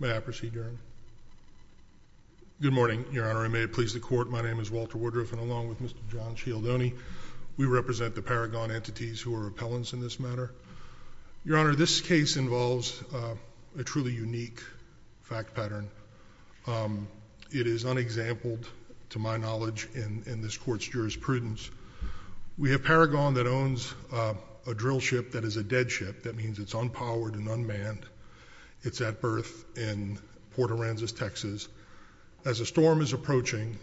May I proceed, Your Honor? Good morning, Your Honor. I may please the court. My name is Walter Woodruff, and along with Mr. John Cialdoni, we represent the Paragon entities who are appellants in this matter. Your Honor, this case involves a truly unique fact pattern. It is unexampled, to my knowledge, in this Court's jurisprudence. We have Paragon that birth in Port Aransas, Texas. As a storm is approaching,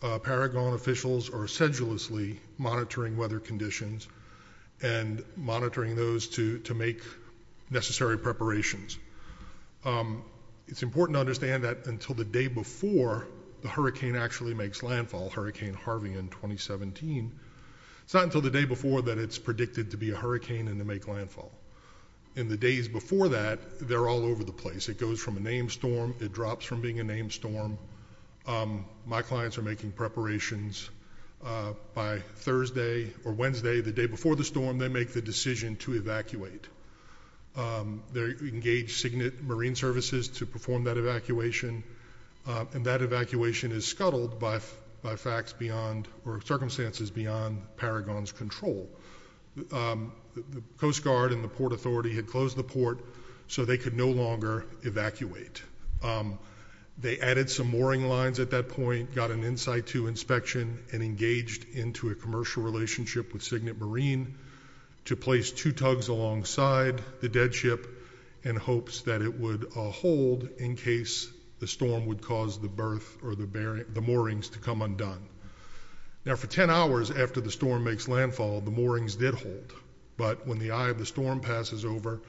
Paragon officials are sedulously monitoring weather conditions and monitoring those to make necessary preparations. It's important to understand that until the day before the hurricane actually makes landfall, Hurricane Harvey in 2017, it's not until the day before that it's predicted to be a hurricane and to make landfall. In the days before that, they're all over the place. It goes from a named storm, it drops from being a named storm. My clients are making preparations by Thursday or Wednesday, the day before the storm, they make the decision to evacuate. They engage Signet Marine Services to perform that evacuation, and that evacuation is scuttled by facts beyond or circumstances beyond Paragon's control. The Coast Guard and the Port Authority had closed the port so they could no longer evacuate. They added some mooring lines at that point, got an in-situ inspection, and engaged into a commercial relationship with Signet Marine to place two tugs alongside the dead ship in hopes that it would hold in case the storm would cause the berth or the moorings to come undone. Now, for ten hours after the storm makes landfall, the moorings did hold, but when the eye of the storm passes over,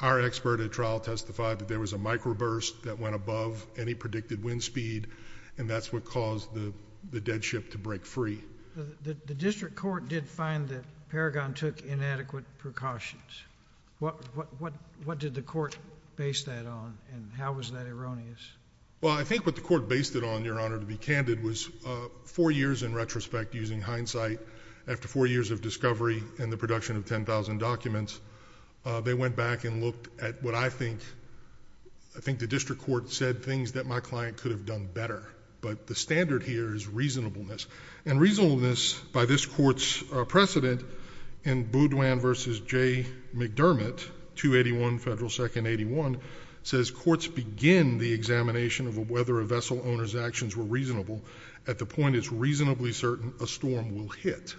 our expert at trial testified that there was a microburst that went above any predicted wind speed, and that's what caused the dead ship to break free. The district court did find that Paragon took inadequate precautions. What did the court base that on, and how was that erroneous? Well, I think what the court based it on, Your Honor, to be candid, was four years in retrospect, using hindsight, after four years of discovery and the production of 10,000 documents, they went back and looked at what I think, I think the district court said things that my client could have done better. But the standard here is reasonableness. And reasonableness by this court's precedent in Boudoin v. J. McDermott, 281 Federal 2nd 81, says courts begin the examination of whether a vessel owner's actions were reasonable at the point it's reasonably certain a storm will hit.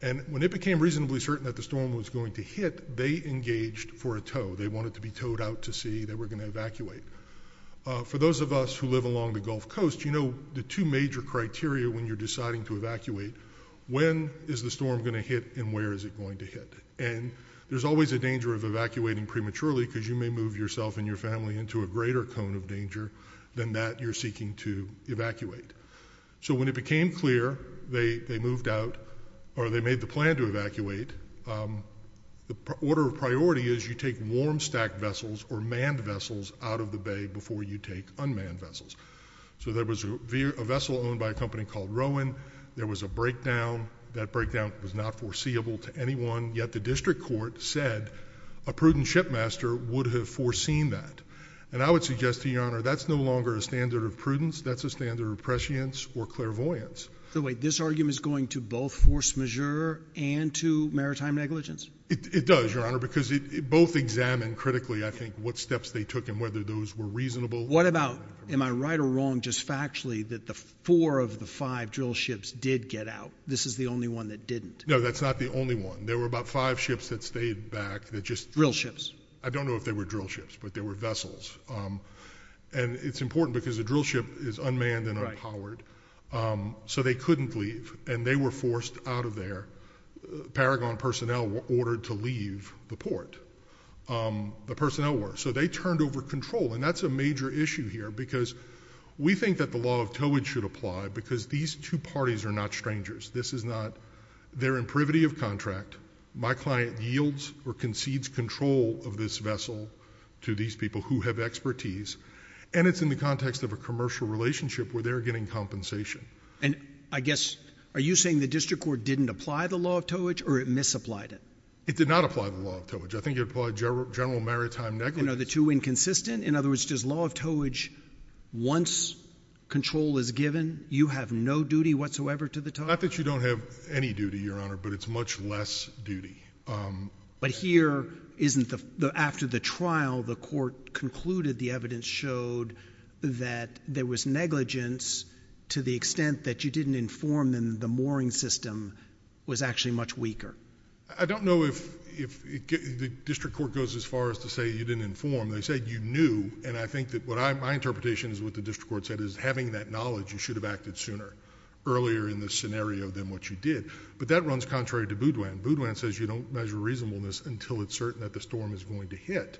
And when it became reasonably certain that the storm was going to hit, they engaged for a tow. They wanted to be towed out to sea. They were going to evacuate. For those of us who live along the Gulf Coast, you know the two major criteria when you're deciding to evacuate, when is the storm going to hit and where is it going to hit? And there's always a danger of evacuating prematurely because you may move yourself and your family into a greater cone of danger than that you're seeking to evacuate. So when it became clear they moved out, or they made the plan to evacuate, the order of priority is you take warm stacked vessels or manned vessels out of the bay before you take unmanned vessels. So there was a vessel owned by a company called Rowan. There was a breakdown. That breakdown was not foreseeable to anyone. Yet the district court said a prudent shipmaster would have foreseen that. And I would suggest to Your Honor, that's no longer a standard of prudence. That's a standard of prescience or clairvoyance. So wait, this argument is going to both force majeure and to maritime negligence? It does, Your Honor, because both examined critically, I think, what steps they took and whether those were reasonable. What about, am I right or wrong, just factually, that the four of the five drill ships did get out? This is the only one that didn't. No, that's not the only one. There were about five ships that stayed back that just... Drill ships. I don't know if they were drill ships, but they were vessels. And it's important because a drill ship is unmanned and unpowered. So they couldn't leave and they were forced out of there. Paragon personnel were ordered to leave the port. The personnel were. So they turned over control. And that's a major issue here because we think that the law of towage should apply because these two parties are not strangers. This is not... They're in privity of contract. My client yields or concedes control of this vessel to these people who have expertise. And it's in the context of a commercial relationship where they're getting compensation. And I guess, are you saying the district court didn't apply the law of towage or it misapplied it? It did not apply the law of towage. I think it applied general maritime negligence. And are the two inconsistent? In other words, does law of towage, once control is given, you have no duty whatsoever to the tower? Not that you don't have any duty, Your Honor, but it's much less duty. But here isn't the... After the trial, the court concluded, the evidence showed that there was negligence to the extent that you didn't inform them the mooring system was actually much weaker. I don't know if the district court goes as far as to say you didn't inform. They said you knew. And I think that my interpretation is what the district court said is having that knowledge, you should have acted sooner, earlier in the scenario than what you did. But that runs contrary to Boudoin. Boudoin says you don't measure reasonableness until it's certain that the storm is going to hit.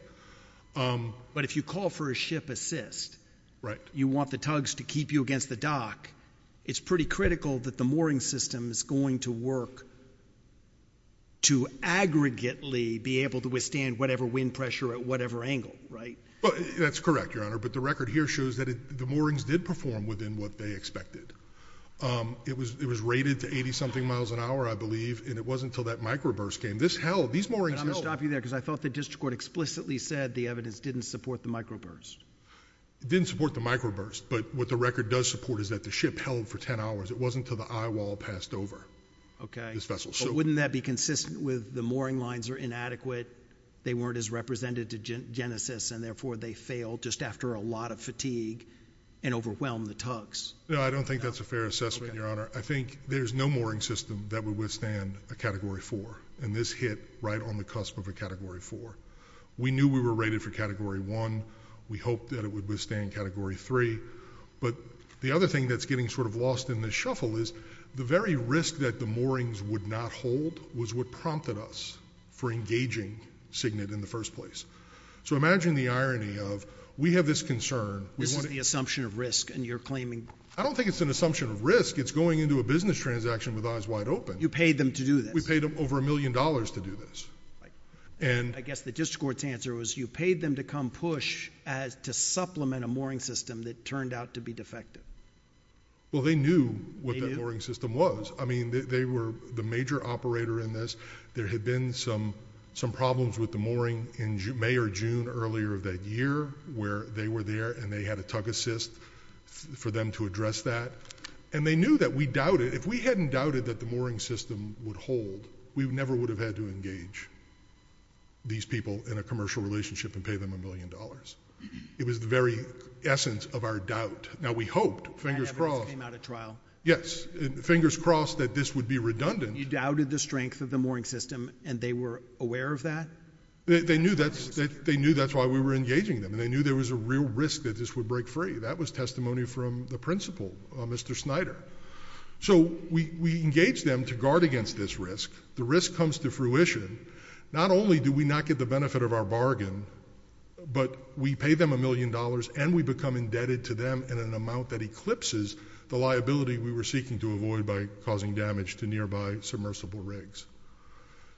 But if you call for a ship assist, you want the tugs to keep you against the dock, it's pretty critical that the mooring system is going to work to aggregately be able to withstand whatever wind pressure at whatever angle, right? That's correct, Your Honor, but the record here shows that the moorings did perform within what they expected. It was rated to 80-something miles an hour, I believe, and it wasn't until that microburst came. This held. These moorings held. I'm going to stop you there because I thought the district court explicitly said the evidence didn't support the microburst. Didn't support the microburst, but what the record does support is that the ship held for 10 hours. It wasn't until the eyewall passed over this vessel. Okay. But wouldn't that be consistent with the mooring lines are inadequate, they weren't as represented to Genesis, and therefore they failed just after a lot of fatigue and overwhelmed the tugs? No, I don't think that's a fair assessment, Your Honor. I think there's no mooring system that would withstand a Category 4, and this hit right on the cusp of a Category 4. We knew we were rated for Category 1. We hoped that it would withstand Category 3. But the other thing that's getting sort of lost in this shuffle is the very risk that the moorings would not hold was what prompted us for engaging CIGNIT in the first place. So imagine the irony of, we have this concern. This is the assumption of risk, and you're claiming... I don't think it's an assumption of risk. It's going into a business transaction with eyes wide open. You paid them to do this. We paid them over a million dollars to do this. I guess the district court's answer was you paid them to come push to supplement a mooring system that turned out to be defective. Well, they knew what that mooring system was. I mean, they were the major operator in this. There had been some problems with the mooring in May or June earlier that year where they were there and they had a tug assist for them to address that. And they knew that we doubted... if we hadn't doubted that the mooring system would hold, we never would have had to engage these people in a commercial relationship and pay them a million dollars. It was the very essence of our doubt. Now, we hoped... And evidence came out at trial. Yes. Fingers crossed that this would be redundant. You doubted the strength of the mooring system, and they were aware of that? They knew that's why we were engaging them, and they knew there was a real risk that this would break free. That was testimony from the principal, Mr. Snyder. So we engaged them to guard against this risk. The risk comes to fruition. Not only do we not get the benefit of our bargain, but we pay them a million dollars and we become indebted to them in an amount that eclipses the liability we were seeking to avoid by causing damage to nearby submersible rigs.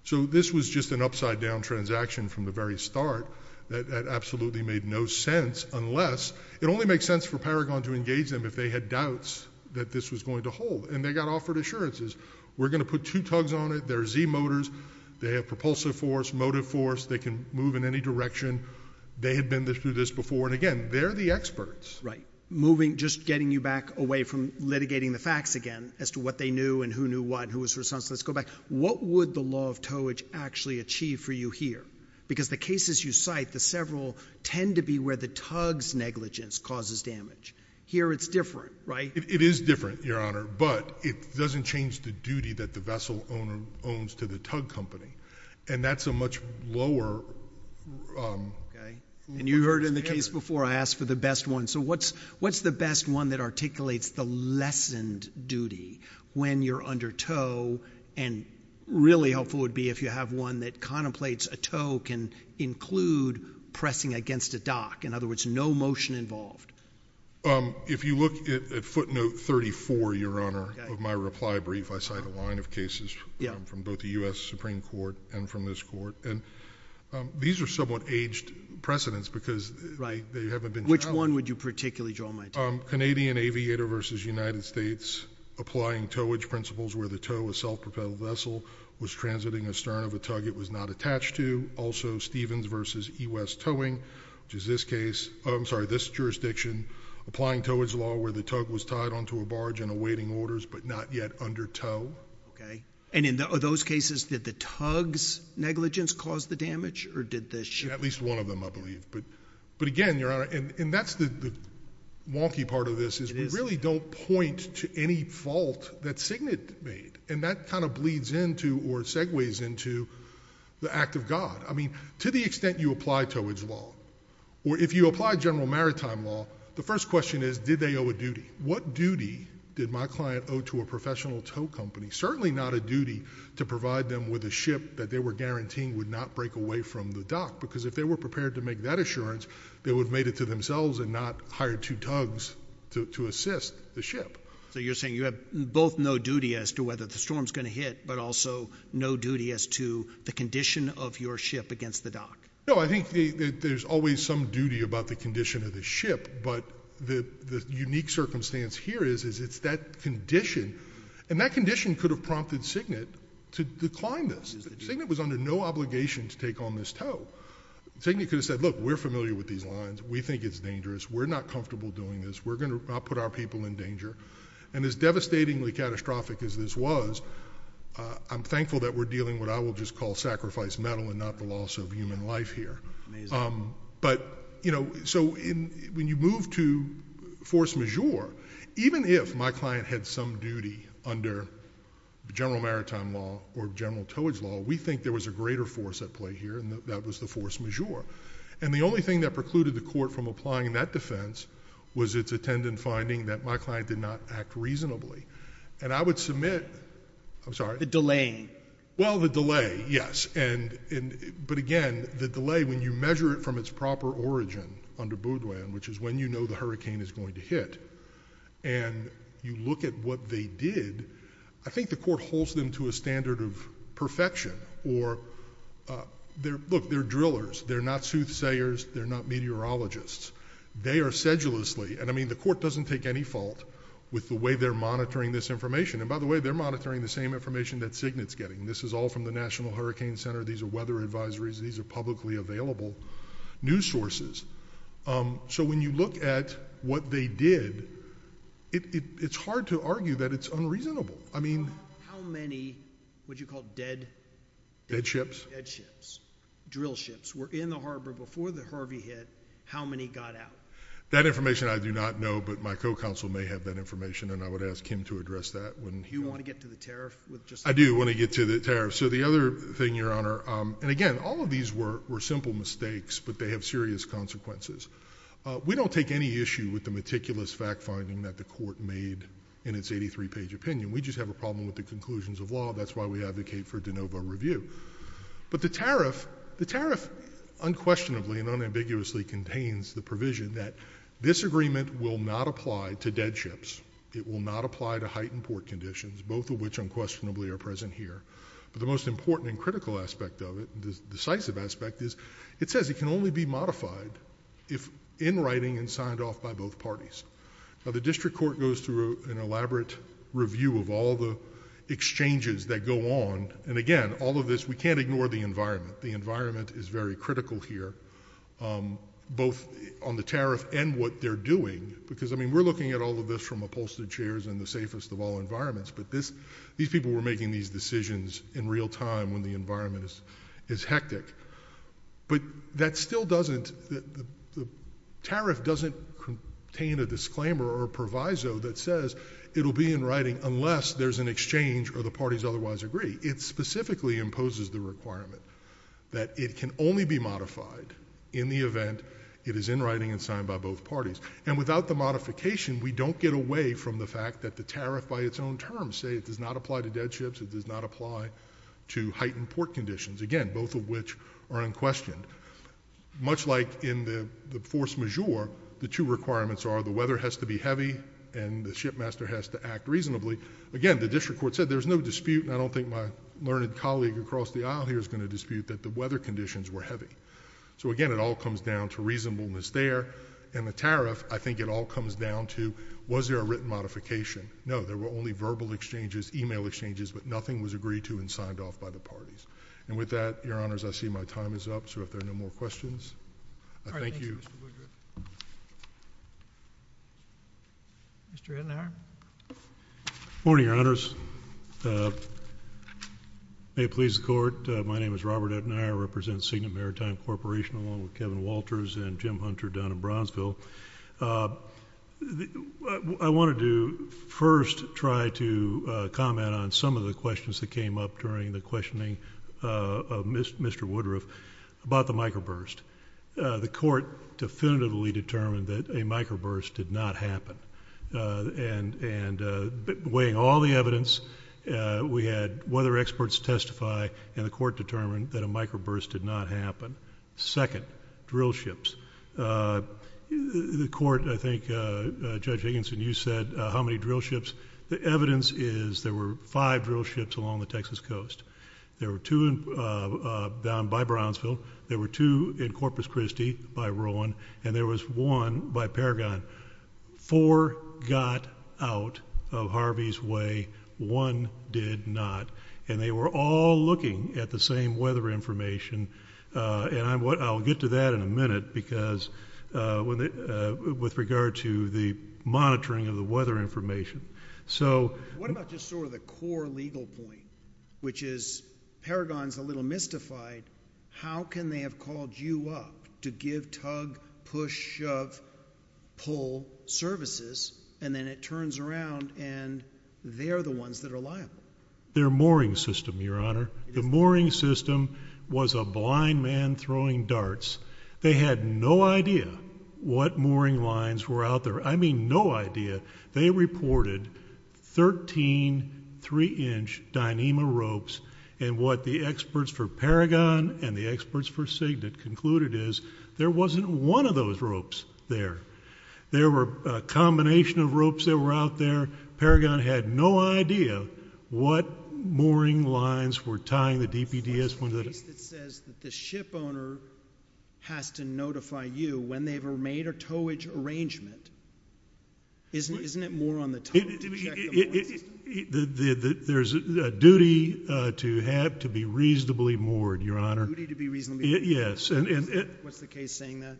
So this was just an upside-down transaction from the very start that absolutely made no sense unless... It only makes sense for Paragon to engage them if they had doubts that this was going to hold, and they got offered assurances. We're going to put two They had been through this before, and again, they're the experts. Right. Moving... just getting you back away from litigating the facts again as to what they knew and who knew what and who was responsible. Let's go back. What would the law of towage actually achieve for you here? Because the cases you cite, the several, tend to be where the tug's negligence causes damage. Here it's different, right? It is different, Your Honor, but it doesn't change the duty that the vessel owner owns to the tug company, and that's a much lower... And you heard in the case before, I asked for the best one. So what's the best one that articulates the lessened duty when you're under tow, and really helpful would be if you have one that contemplates a tow can include pressing against a dock. In other words, no motion involved. If you look at footnote 34, Your Honor, of both the U.S. Supreme Court and from this Court, and these are somewhat aged precedents because they haven't been challenged. Right. Which one would you particularly draw my attention to? Canadian Aviator v. United States, applying towage principles where the tow of a self-propelled vessel was transiting astern of a tug it was not attached to. Also, Stevens v. E. West Towing, which is this case... I'm sorry, this jurisdiction, applying towage law where the tug was tied onto a barge and awaiting orders, but not yet under tow. Okay. And in those cases, did the tug's negligence cause the damage, or did the ship... At least one of them, I believe. But again, Your Honor, and that's the wonky part of this is we really don't point to any fault that Signet made, and that kind of bleeds into or segues into the act of God. I mean, to the extent you apply towage law, or if you apply general maritime law, the first question is did they owe a duty? What duty did my client owe to a professional tow company? Certainly not a duty to provide them with a ship that they were guaranteeing would not break away from the dock, because if they were prepared to make that assurance, they would have made it to themselves and not hired two tugs to assist the ship. So you're saying you have both no duty as to whether the storm's going to hit, but also no duty as to the condition of your ship against the dock? No, I think that there's always some duty about the condition of the ship, but the unique circumstance here is it's that condition, and that condition could have prompted Signet to decline this. Signet was under no obligation to take on this tow. Signet could have said, look, we're familiar with these lines. We think it's dangerous. We're not comfortable doing this. We're going to put our people in danger. And as devastatingly catastrophic as this was, I'm thankful that we're dealing with what I will just call sacrifice metal and not the loss of human life here. But you know, so when you move to force majeure, even if my client had some duty under general maritime law or general towage law, we think there was a greater force at play here, and that was the force majeure. And the only thing that precluded the court from applying that defense was its attendant finding that my client did not act reasonably. And I would submit... I'm sorry. The delaying. Yes. But again, the delay, when you measure it from its proper origin under Boudouin, which is when you know the hurricane is going to hit, and you look at what they did, I think the court holds them to a standard of perfection. Look, they're drillers. They're not soothsayers. They're not meteorologists. They are sedulously... and I mean the court doesn't take any fault with the way they're monitoring this information. And by the way, they're monitoring the same information that Cygnet's getting. This is all from the National Hurricane Center. These are weather advisories. These are publicly available news sources. So when you look at what they did, it's hard to argue that it's unreasonable. I mean... How many, what did you call it, dead... Dead ships. Dead ships. Drill ships were in the harbor before the Harvey hit. How many got out? That information I do not know, but my co-counsel may have that information, and I would ask him to address that when... Do you want to get to the tariff? I do want to get to the tariff. So the other thing, Your Honor... and again, all of these were simple mistakes, but they have serious consequences. We don't take any issue with the meticulous fact-finding that the court made in its 83-page opinion. We just have a problem with the conclusions of law. That's why we advocate for de novo review. But the tariff unquestionably and unambiguously contains the provision that this agreement will not apply to dead ships. It will not apply to heightened port conditions, both of which unquestionably are present here. But the most important and critical aspect of it, the decisive aspect, is it says it can only be modified if in writing and signed off by both parties. Now the district court goes through an elaborate review of all the exchanges that go on, and again, all of this, we can't ignore the environment. The environment is very critical here, both on the tariff and what they're doing, because I mean, we're looking at all of this from upholstered chairs and the safest of all environments, but these people were making these decisions in real time when the environment is hectic. But that still doesn't... the tariff doesn't contain a disclaimer or a proviso that says it'll be in writing unless there's an exchange or the parties otherwise agree. It specifically imposes the requirement that it can only be modified in the event it is in writing and signed by both parties. And without the modification, we don't get away from the fact that the tariff by its own terms say it does not apply to dead ships, it does not apply to heightened port conditions, again, both of which are unquestioned. Much like in the force majeure, the two requirements are the weather has to be heavy and the shipmaster has to act reasonably. Again, the district court said there's no dispute, and I don't think my learned colleague across the aisle here is going to dispute that the weather conditions were heavy. So again, it all comes down to reasonableness there. And the tariff, I think it all comes down to was there a written modification. No, there were only verbal exchanges, email exchanges, but nothing was agreed to and signed off by the parties. And with that, Your Honors, I see my time is up, so if there are no more questions, I thank you. Thank you, Mr. Woodruff. Mr. Ettinger? Good morning, Your Honors. May it please the Court, my name is Robert Ettinger. I represent Signet Maritime Corporation along with Kevin Walters and Jim Hunter down in Bronzeville. I wanted to first try to comment on some of the questions that came up during the questioning of Mr. Woodruff about the microburst. The Court definitively determined that a microburst did not happen. And weighing all the evidence, we had weather experts testify and the Court determined that a microburst did not happen. Second, drill ships. The Court, I think, Judge Higginson, you said how many drill ships. The evidence is there were five drill ships along the Texas coast. There were two down by Brownsville. There were two in Corpus Christi by Rowan. And there was one by Paragon. Four got out of Harvey's Way. One did not. And they were all looking at the same weather information. And I'll get to that in a minute because with regard to the monitoring of the weather information. So what about just sort of the core legal point, which is Paragon's a little mystified. How can they have called you up to give tug, push, shove, pull services and then it turns around and they're the ones that are liable? Their mooring system, Your Honor. The mooring system was a blind man throwing darts. They had no idea what mooring lines were out there. I mean, no idea. They reported 13 three-inch Dyneema ropes and what the experts for Paragon and the experts for Cigna concluded is there wasn't one of those ropes there. There were a combination of ropes that were out there. Paragon had no idea what mooring lines were tying the DPDS. There's a case that says that the ship owner has to notify you when they've made a towage arrangement. Isn't it more on the towage? There's a duty to have to be reasonably moored, Your Honor. A duty to be reasonably moored. What's the case saying that?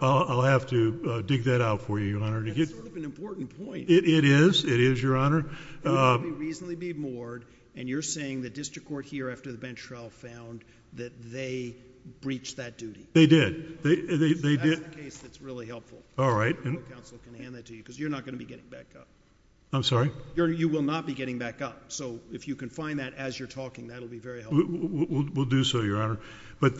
I'll have to dig that out for you, Your Honor. That's sort of an important point. It is. It is, Your Honor. It's a duty to be reasonably moored, and you're saying the district court here after the bench trial found that they breached that duty. They did. That's the case that's really helpful. I don't know if counsel can hand that to you, because you're not going to be getting back up. I'm sorry? You will not be getting back up. So if you can find that as you're talking, that'll be very helpful. We'll do so, Your Honor. We have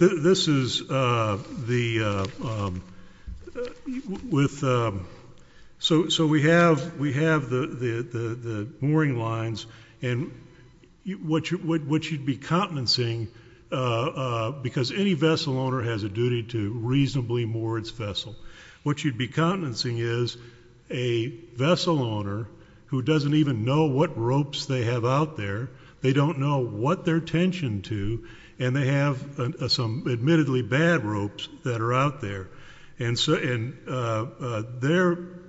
the mooring lines, and what you'd be countenancing, because any vessel owner has a duty to reasonably moor its vessel. What you'd be countenancing is a vessel owner who doesn't even know what ropes they have out there. They don't know what they're tensioned to, and they have some admittedly bad ropes that are out there.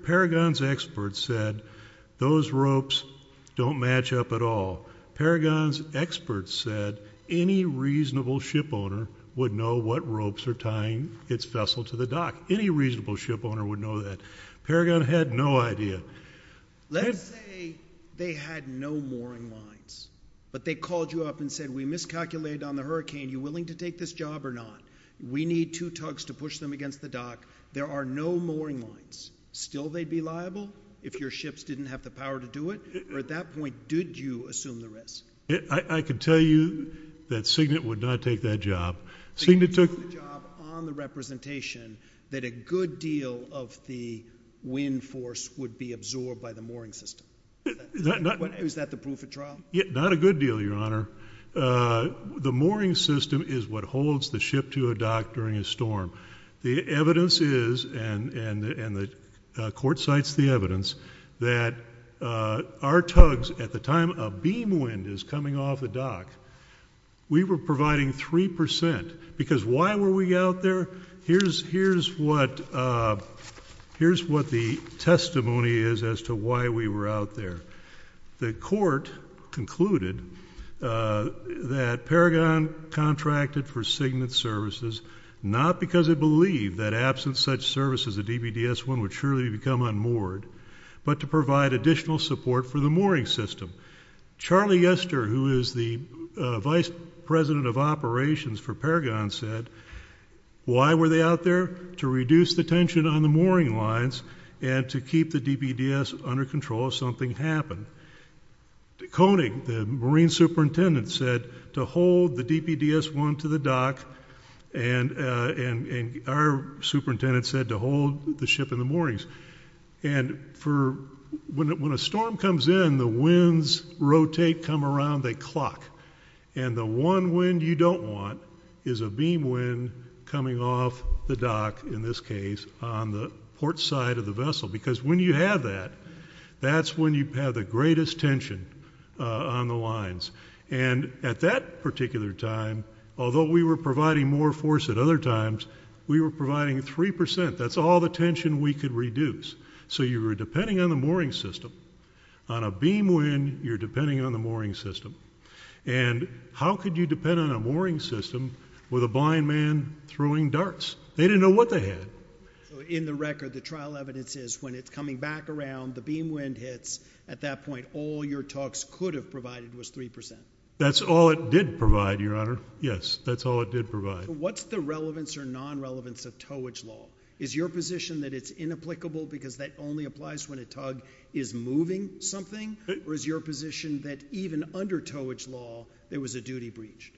Paragon's experts said those ropes don't match up at all. Paragon's experts said any reasonable ship owner would know what ropes are tying its vessel to the dock. Any reasonable ship owner would know that. Paragon had no idea. Let's say they had no mooring lines, but they called you up and said, we miscalculated on the hurricane. Are you willing to take this job or not? We need two tugs to push them against the dock. There are no mooring lines. Still, they'd be liable if your ships didn't have the power to do it? Or at that point, did you assume the risk? I can tell you that Signet would not take that job. Signet took the job on the representation that a good deal of the wind force would be absorbed by the mooring system. Is that the proof at trial? Not a good deal, Your Honor. The mooring system is what holds the ship to a dock during a storm. The evidence is, and the court cites the evidence, that our tugs, at the time a we were providing 3 percent. Because why were we out there? Here's what the testimony is as to why we were out there. The court concluded that Paragon contracted for Signet services not because it believed that absent such services, the DBDS-1 would surely become unmoored, but to provide additional support for the mooring system. Charlie Yester, who is the vice president of operations for Paragon, said, why were they out there? To reduce the tension on the mooring lines and to keep the DBDS under control if something happened. Koenig, the marine superintendent, said to hold the DBDS-1 to the dock, and our superintendent said to hold the ship in the moorings. When a storm comes in, the winds rotate, come around, they clock. The one wind you don't want is a beam wind coming off the dock, in this case, on the port side of the vessel. Because when you have that, that's when you have the greatest tension on the lines. At that particular time, although we were providing more force at other times, it was 3%. That's all the tension we could reduce. So you were depending on the mooring system. On a beam wind, you're depending on the mooring system. And how could you depend on a mooring system with a blind man throwing darts? They didn't know what they had. In the record, the trial evidence is, when it's coming back around, the beam wind hits, at that point, all your talks could have provided was 3%. That's all it did provide, Your Honor. Yes, that's all it did provide. What's the relevance or non-relevance of towage law? Is your position that it's inapplicable because that only applies when a tug is moving something? Or is your position that even under towage law, there was a duty breached?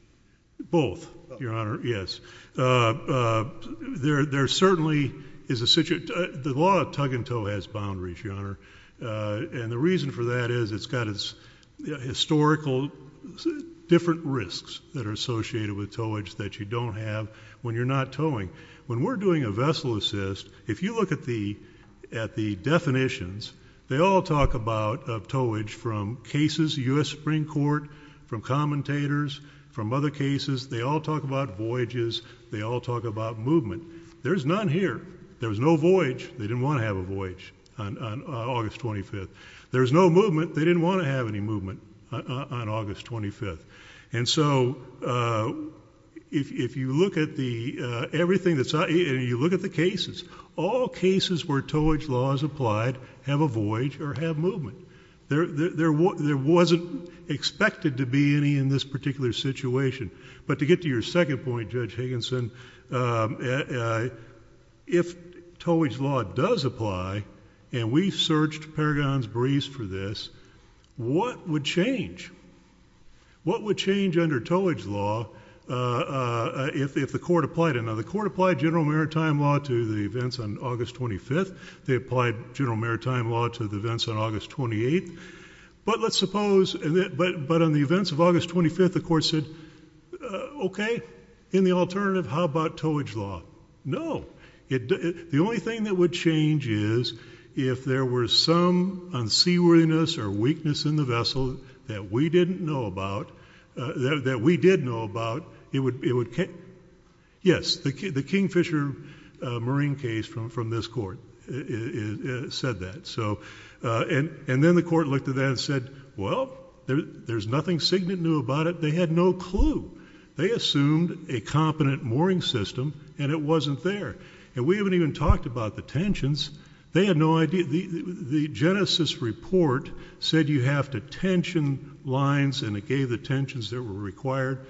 Both, Your Honor. Yes. There certainly is a situation. The law of tug and tow has boundaries, Your Honor. And the reason for that is it's got historical different risks that are associated with towage that you don't have when you're not towing. When we're doing a vessel assist, if you look at the definitions, they all talk about towage from cases, U.S. Supreme Court, from commentators, from other cases. They all talk about voyages. They all talk about movement. There's none here. There was no voyage. They didn't want to have a voyage on August 25th. There was no movement. They didn't want to have any on August 25th. And so, if you look at the, everything that's, you look at the cases, all cases where towage law is applied have a voyage or have movement. There wasn't expected to be any in this particular situation. But to get to your second point, Judge Higginson, if towage law does apply, and we've searched paragons briefs for this, what would change? What would change under towage law if the court applied it? Now, the court applied general maritime law to the events on August 25th. They applied general maritime law to the events on August 28th. But let's suppose, but on the events of August 25th, the court said, okay, in the alternative, how about towage law? No. The only thing that would change is if there were some unseaworthiness or weakness in the vessel that we didn't know about, that we did know about, it would, yes, the King Fisher marine case from this court said that. So, and then the court looked at that and said, well, there's nothing signet knew about it. They had no clue. They assumed a competent mooring system, and it wasn't there. And we haven't even talked about the tensions. They had no idea. The Genesis report said you have to tension lines, and it gave the tensions that were required.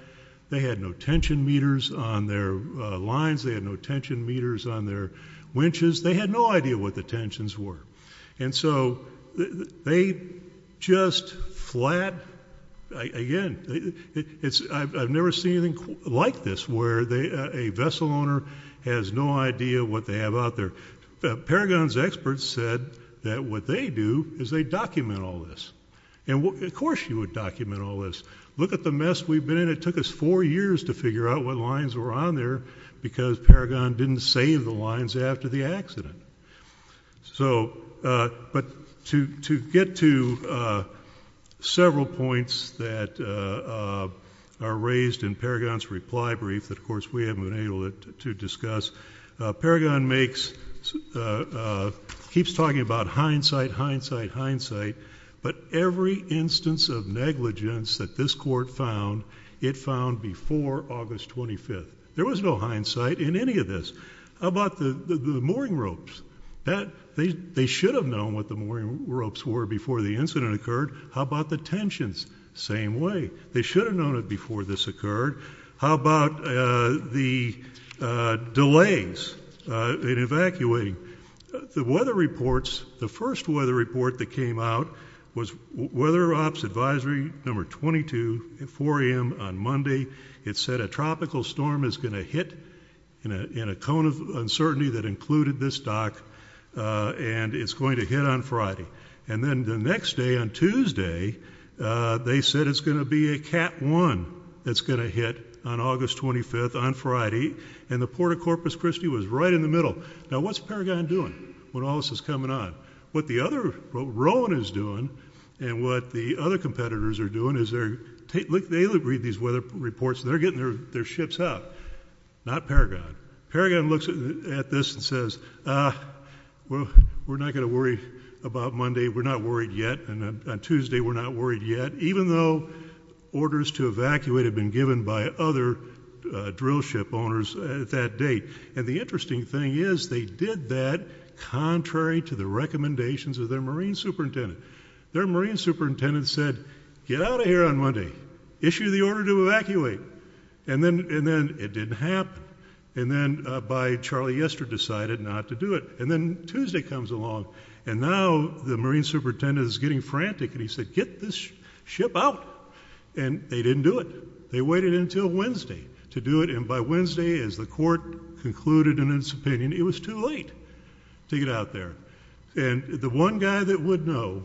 They had no tension meters on their lines. They had no tension meters on their winches. They had no idea what the tensions were. And so, they just flat, again, I've never seen anything like this where a vessel owner has no idea what they have out there. Paragon's experts said that what they do is they document all this. And of course you would document all this. Look at the mess we've been in. It took us four years to figure out what lines were on there because Paragon didn't save the lines after the accident. So, but to get to several points that are raised in Paragon's reply brief that of course we haven't been able to discuss, Paragon makes, keeps talking about hindsight, hindsight, hindsight, but every instance of negligence that this court found, it found before August 25th. There was no hindsight in any of this. How about the mooring ropes? They should have known what the mooring ropes were before the incident occurred. How about the tensions? Same way. They should have known it before this occurred. How about the delays in evacuating? The weather reports, the first weather report that came out was weather ops advisory number 22 at 4 a.m. on Monday. It said a tropical storm is going to hit in a cone of uncertainty that included this dock and it's going to hit on Friday. And then the next day on Tuesday they said it's going to be a cat one that's going to hit on August 25th on Friday. And the Port of Corpus Christi was right in the middle. Now what's Paragon doing when all this is coming on? What the other, what Rowan is doing and what the other competitors are doing is they're, they read these weather reports, they're getting their ships out, not Paragon. Paragon looks at this and says, ah, we're not going to worry about Monday, we're not worried yet, and on Tuesday we're not worried yet, even though orders to evacuate have been given by other drill ship owners at that date. And the interesting thing is they did that contrary to the recommendations of their marine superintendent. Their marine superintendent said, get out of here on Monday. Issue the order to evacuate. And then, and then it didn't happen. And then by Charlie Yester decided not to do it. And then Tuesday comes along and now the marine superintendent is getting frantic and he said, get this ship out. And they didn't do it. They waited until Wednesday to do it. And by Wednesday, as the court concluded in its opinion, it was too late to get out there. And the one guy that would know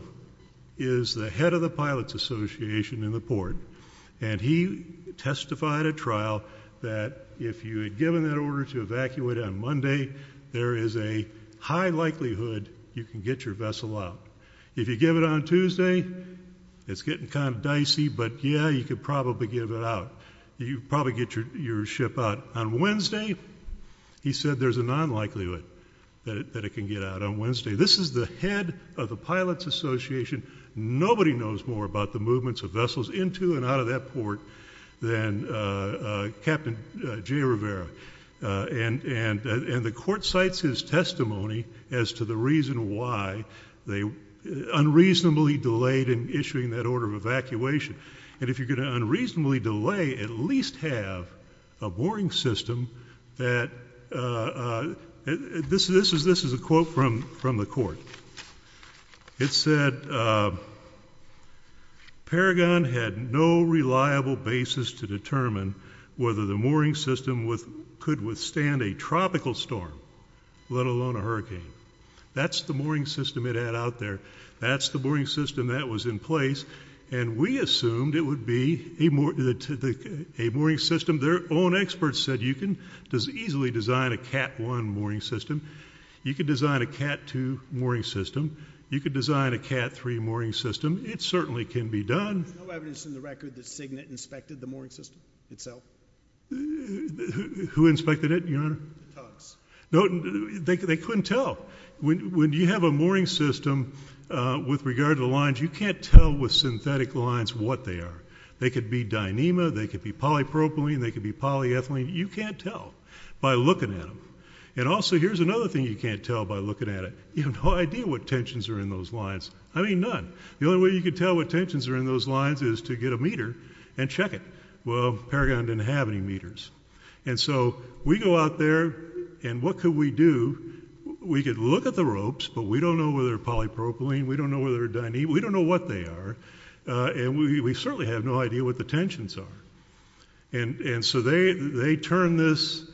is the head of the pilots association in the port. And he testified at trial that if you had given that order to evacuate on Monday, there is a high likelihood you can get your vessel out. If you give it on Tuesday, it's your ship out. On Wednesday, he said there's a non-likelihood that it can get out on Wednesday. This is the head of the pilots association. Nobody knows more about the movements of vessels into and out of that port than Captain Jay Rivera. And the court cites his testimony as to the reason why they unreasonably delayed in issuing that order of evacuation. And if you're going to unreasonably delay, at least have a mooring system that, this is a quote from the court. It said, Paragon had no reliable basis to determine whether the mooring system could withstand a tropical storm, let alone a hurricane. That's the mooring system it could withstand. The mooring system, their own experts said you can easily design a cat one mooring system. You could design a cat two mooring system. You could design a cat three mooring system. It certainly can be done. There's no evidence in the record that Cignet inspected the mooring system itself? Who inspected it, your honor? Tugs. No, they couldn't tell. When you have a mooring system, with regard to the lines, you can't tell with synthetic lines what they are. They could be dyneema, they could be polypropylene, they could be polyethylene. You can't tell by looking at them. And also here's another thing you can't tell by looking at it. You have no idea what tensions are in those lines. I mean none. The only way you can tell what tensions are in those lines is to get a meter and check it. Well, Paragon didn't have any meters. And so we go out there and what could we do? We could look at the ropes, but we don't know whether they're polypropylene, we don't know whether they're dyneema, we don't know what they are. And we certainly have no idea what the tensions are. And so they turned this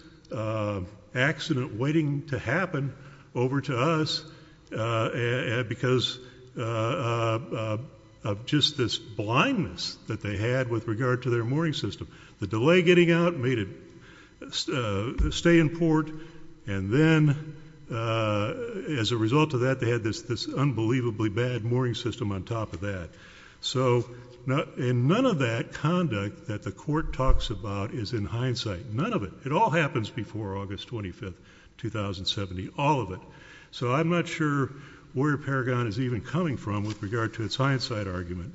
accident waiting to happen over to us because of just this blindness that they had with regard to their mooring system. The delay getting out made it stay in port, and then as a result of that they had this unbelievably bad mooring system on top of that. And none of that conduct that the court talks about is in hindsight. None of it. It all happens before August 25, 2070. All of it. So I'm not sure where Paragon is even coming from with regard to its hindsight argument.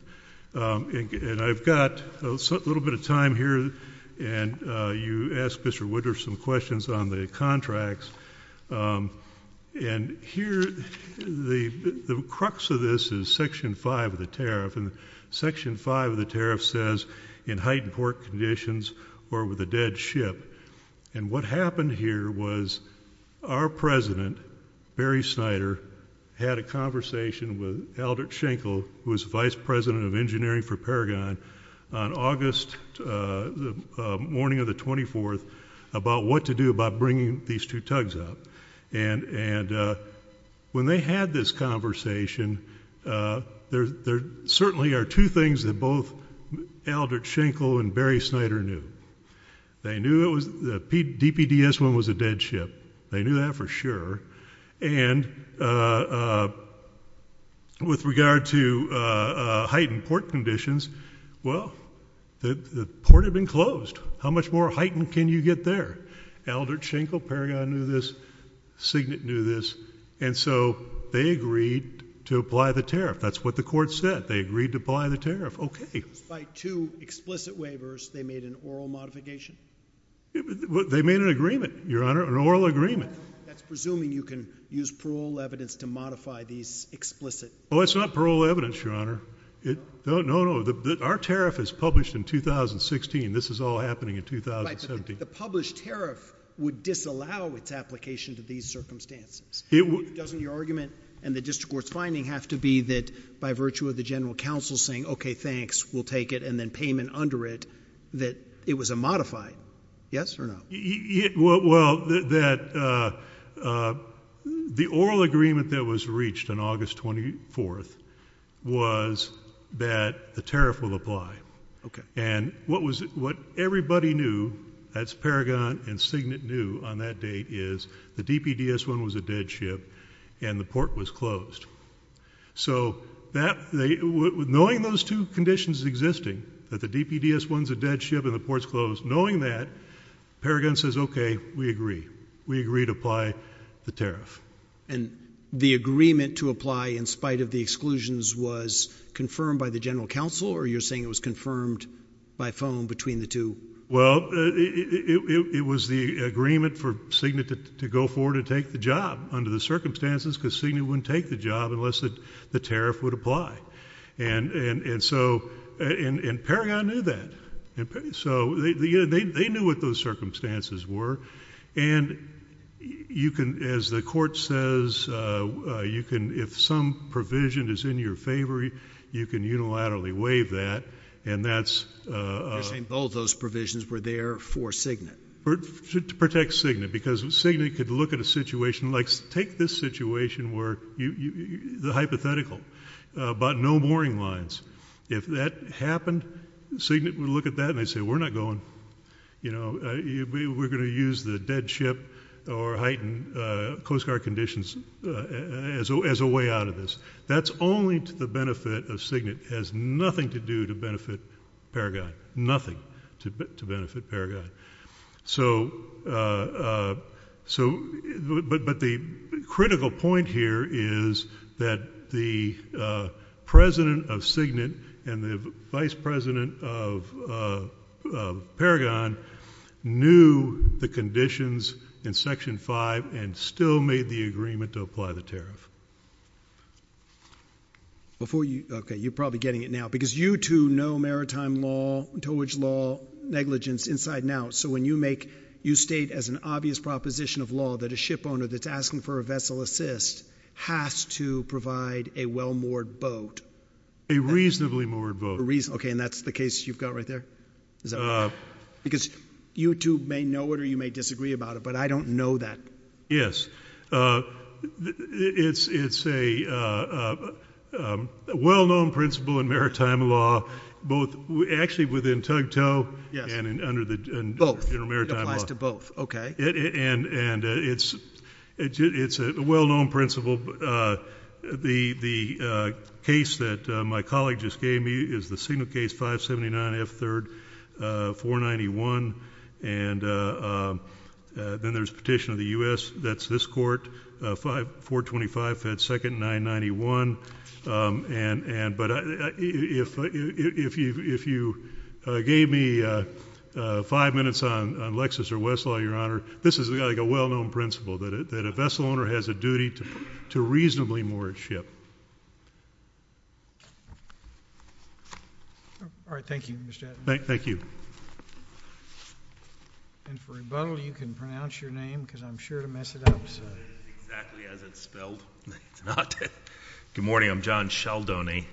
And I've got a little bit of time here, and you asked Mr. Woodruff some questions on the contracts. And here, the crux of this is Section 5 of the tariff. And Section 5 of the tariff says in heightened port conditions or with a dead ship. And what happened here was our president, Barry Snyder, had a conversation with Aldrich Schenkel, who was vice president of engineering for Paragon, on August morning of the 24th about what to do about bringing these two tugs up. And when they had this conversation, there certainly are two things that both Aldrich Schenkel and Barry Snyder knew. They knew the DPDS one was a dead ship. They knew that for sure. And with regard to heightened port conditions, well, the port had been closed. How much more heightened can you get there? Aldrich Schenkel, Paragon knew this. Signet knew this. And so they agreed to apply the tariff. That's what the court said. They agreed to apply the tariff. Okay. Despite two explicit waivers, they made an oral modification? They made an agreement, Your Honor, an oral agreement. That's presuming you can use parole evidence to modify these explicit? Oh, it's not parole evidence, Your Honor. No, no. Our tariff is published in 2016. This is all happening in 2017. The published tariff would disallow its application to these circumstances. Doesn't your argument and the district court's finding have to be that by virtue of the general counsel saying, okay, thanks, we'll take it, and then payment under it, that it was a modified? Yes or no? The oral agreement that was reached on August 24th was that the tariff will apply. And what everybody knew, that's Paragon and Signet knew on that date, is the DPDS one was a dead ship, and the port was closed. So knowing those two conditions existing, that the DPDS one's a dead ship and the port's closed, knowing that, Paragon says, okay, we agree. We agree to apply the tariff. And the agreement to apply in spite of the exclusions was confirmed by the general counsel, or you're saying it was confirmed by phone between the two? Well, it was the agreement for Signet to go forward and take the job under the circumstances because Signet wouldn't take the job unless the tariff would apply. And Paragon knew that. So they knew what those circumstances were. And you can, as the court says, you can, if some provision is in your favor, you can unilaterally waive that. And you're saying both those provisions were there for Signet? To protect Signet. Because Signet could look at a situation like, take this situation where the hypothetical, but no mooring lines. If that happened, Signet would look at that and they'd say, we're not going, you know, we're going to use the dead ship or heightened coast guard conditions as a way out of this. That's only to the benefit of Signet. It has nothing to do to benefit Paragon. Nothing to benefit Paragon. So, but the critical point here is that the president of Signet and the vice president of Paragon knew the conditions in Section 5 and still made the agreement to apply the tariff. Before you, okay, you're probably getting it now. Because you two know maritime law, towage law, negligence inside and out. So when you make, you state as an obvious proposition of law that a ship owner that's asking for a vessel assist has to provide a well moored boat. A reasonably moored boat. A reasonably, okay, and that's the case you've got right there? Is that right? Because you two may know it or you may disagree about it, but I don't know that. Yes. It's a well known principle in maritime law, both actually within tug tow and under the intermaritime law. Both. It applies to both. Okay. And it's a well known principle. The case that my colleague just gave me is the Signet case, 579F3, 491. And then there's a petition of the U.S. that's this court, 425F2, 991. But if you gave me five minutes on Lexis or Westlaw, Your Honor, this is like a well known principle that a vessel owner has a duty to reasonably moor a ship. All right. Thank you, Mr. Attenauer. Thank you. And for rebuttal, you can pronounce your name because I'm sure to mess it up, so... It is exactly as it's spelled. It's not. Good morning. I'm John Sheldoney,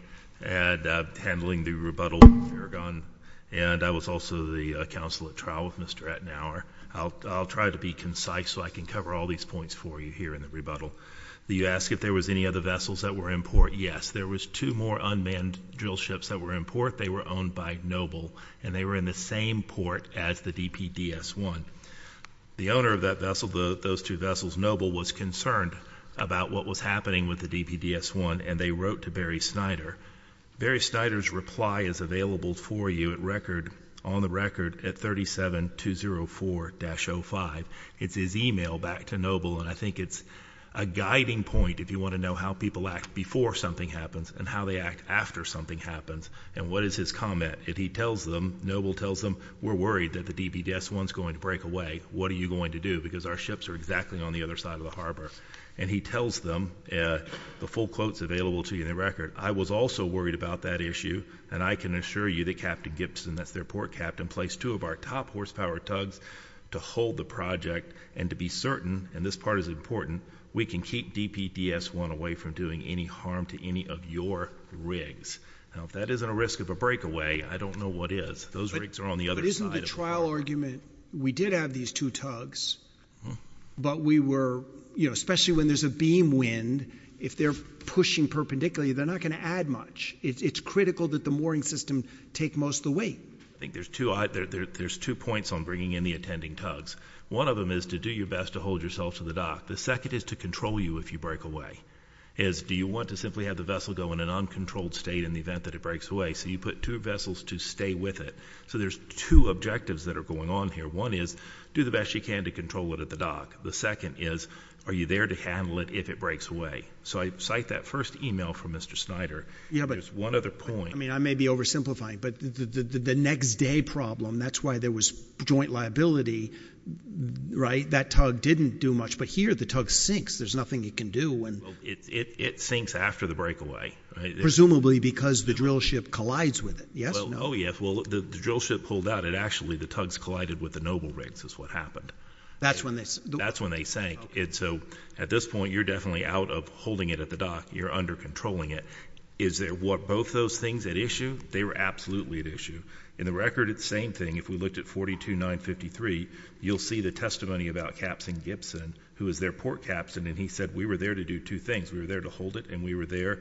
handling the rebuttal with Farragon, and I was also the counsel at trial with Mr. Attenauer. I'll try to be concise so I can cover all these points for you here in the rebuttal. You asked if there was any other vessels that were in port. Yes. There was two more unmanned drill ships that were in port. They were owned by Noble, and they were in the same port as the DPDS-1. The owner of that vessel, those two vessels, Noble, was concerned about what was happening with the DPDS-1, and they wrote to Barry Snyder. Barry Snyder's reply is available for you on the record at 37204-05. It's his email back to Noble, and I think it's a guiding point if you want to know how people act before something happens and how they act after something happens, and what is his comment. He tells them, Noble tells them, we're worried that the DPDS-1's going to break away. What are you going to do? Because our ships are exactly on the other side of the harbor. And he tells them, the full quote's available to you in the record, I was also worried about that issue, and I can assure you that Captain Gibson, that's their port captain, placed two of our top horsepower tugs to hold the DPDS-1 away from doing any harm to any of your rigs. Now if that isn't a risk of a breakaway, I don't know what is. Those rigs are on the other side of the harbor. But isn't the trial argument, we did have these two tugs, but we were, you know, especially when there's a beam wind, if they're pushing perpendicularly, they're not going to add much. It's critical that the mooring system take most of the weight. I think there's two points on bringing in the attending tugs. One of them is to do your best to hold yourself to the dock. The second is to control you if you break away. Do you want to simply have the vessel go in an uncontrolled state in the event that it breaks away? So you put two vessels to stay with it. So there's two objectives that are going on here. One is, do the best you can to control it at the dock. The second is, are you there to handle it if it breaks away? So I cite that first email from Mr. Snyder, there's one other point. I mean, I may be oversimplifying, but the next day problem, that's why there was joint liability, right? That tug didn't do much, but here the tug sinks. There's nothing it can do. Well, it sinks after the breakaway, right? Presumably because the drill ship collides with it. Yes or no? Oh, yes. Well, the drill ship pulled out. It actually, the tugs collided with the noble rigs is what happened. That's when they sank. That's when they sank. And so at this point, you're definitely out of holding it at the dock. You're under controlling it. Is there what both those things at issue? They were you'll see the testimony about Captain Gibson, who is their port captain. And he said, we were there to do two things. We were there to hold it and we were there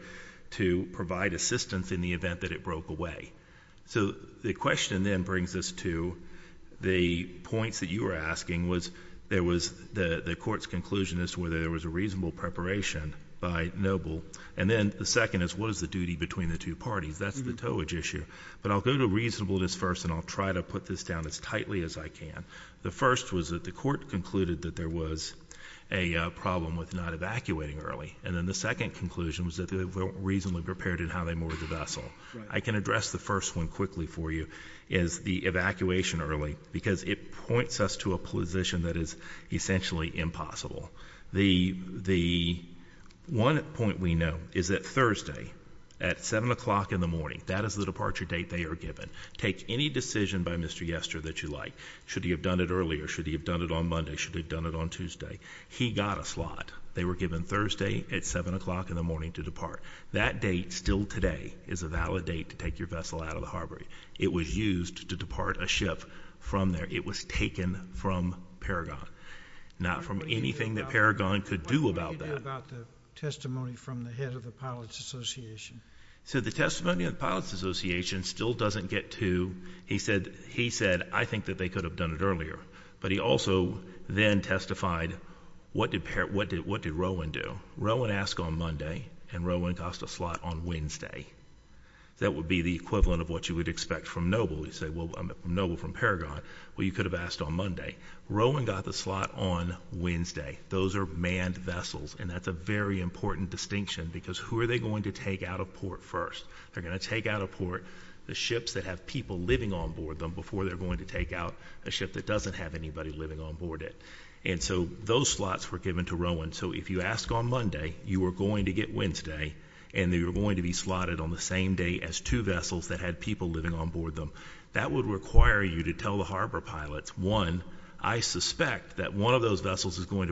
to provide assistance in the event that it broke away. So the question then brings us to the points that you were asking was, there was the court's conclusion is whether there was a reasonable preparation by noble. And then the second is, what is the duty between the two parties? That's the towage issue. But I'll go to reasonableness first, and I'll try to put this down as tightly as I can. The first was that the court concluded that there was a problem with not evacuating early. And then the second conclusion was that they weren't reasonably prepared in how they moored the vessel. I can address the first one quickly for you is the evacuation early because it points us to a position that is essentially impossible. The the one point we know is that Thursday at seven o'clock in the morning, that is the departure date they are given. Take any decision by Mr. Yester that you like. Should he have done it earlier? Should he have done it on Monday? Should have done it on Tuesday? He got a slot. They were given Thursday at seven o'clock in the morning to depart. That date still today is a valid date to take your vessel out of the harbor. It was used to depart a ship from there. It was taken from Paragon, not from anything that Paragon could do about that about the testimony from the head of the Pilots Association. So the testimony of the Pilots Association still doesn't get to. He said, he said, I think that they could have done it earlier. But he also then testified. What did what did what did Rowan do? Rowan asked on Monday and Rowan cost a slot on Wednesday. That would be the equivalent of what you would expect from noble. You say, well, I'm noble from Paragon. Well, you could have asked on Monday. Rowan got the slot on Wednesday. Those air manned vessels. And that's a very important distinction because who are they going to take out of port? First, they're gonna take out of port the ships that have people living on board them before they're going to take out a ship that doesn't have anybody living on board it. And so those slots were given to Rowan. So if you ask on Monday, you were going to get Wednesday and they were going to be slotted on the same day as two vessels that had people living on board them. That would require you to tell the harbor pilots one. I suspect that one of those vessels is what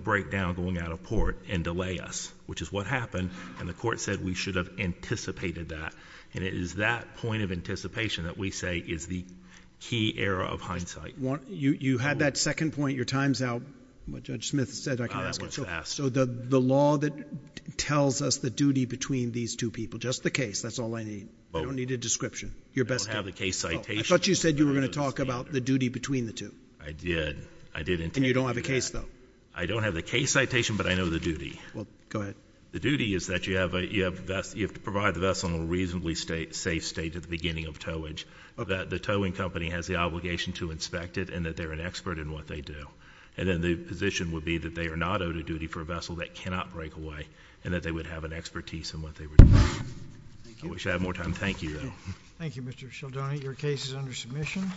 happened. And the court said we should have anticipated that. And it is that point of anticipation that we say is the key era of hindsight. You had that second point. Your time's out. Judge Smith said I can ask. So the law that tells us the duty between these two people, just the case, that's all I need. I don't need a description. Your best have the case. I thought you said you were going to talk about the duty between the two. I did. I did. And you don't have a case, though. I don't have the case citation, but I know the duty. Well, go ahead. The duty is that you have to provide the vessel in a reasonably safe state at the beginning of towage. The towing company has the obligation to inspect it and that they're an expert in what they do. And then the position would be that they are not owed a duty for a vessel that cannot break away and that they would have an expertise in what they were doing. I wish I had more time. Thank you, though. Thank you, Mr. Cialdoni. Your case is under submission.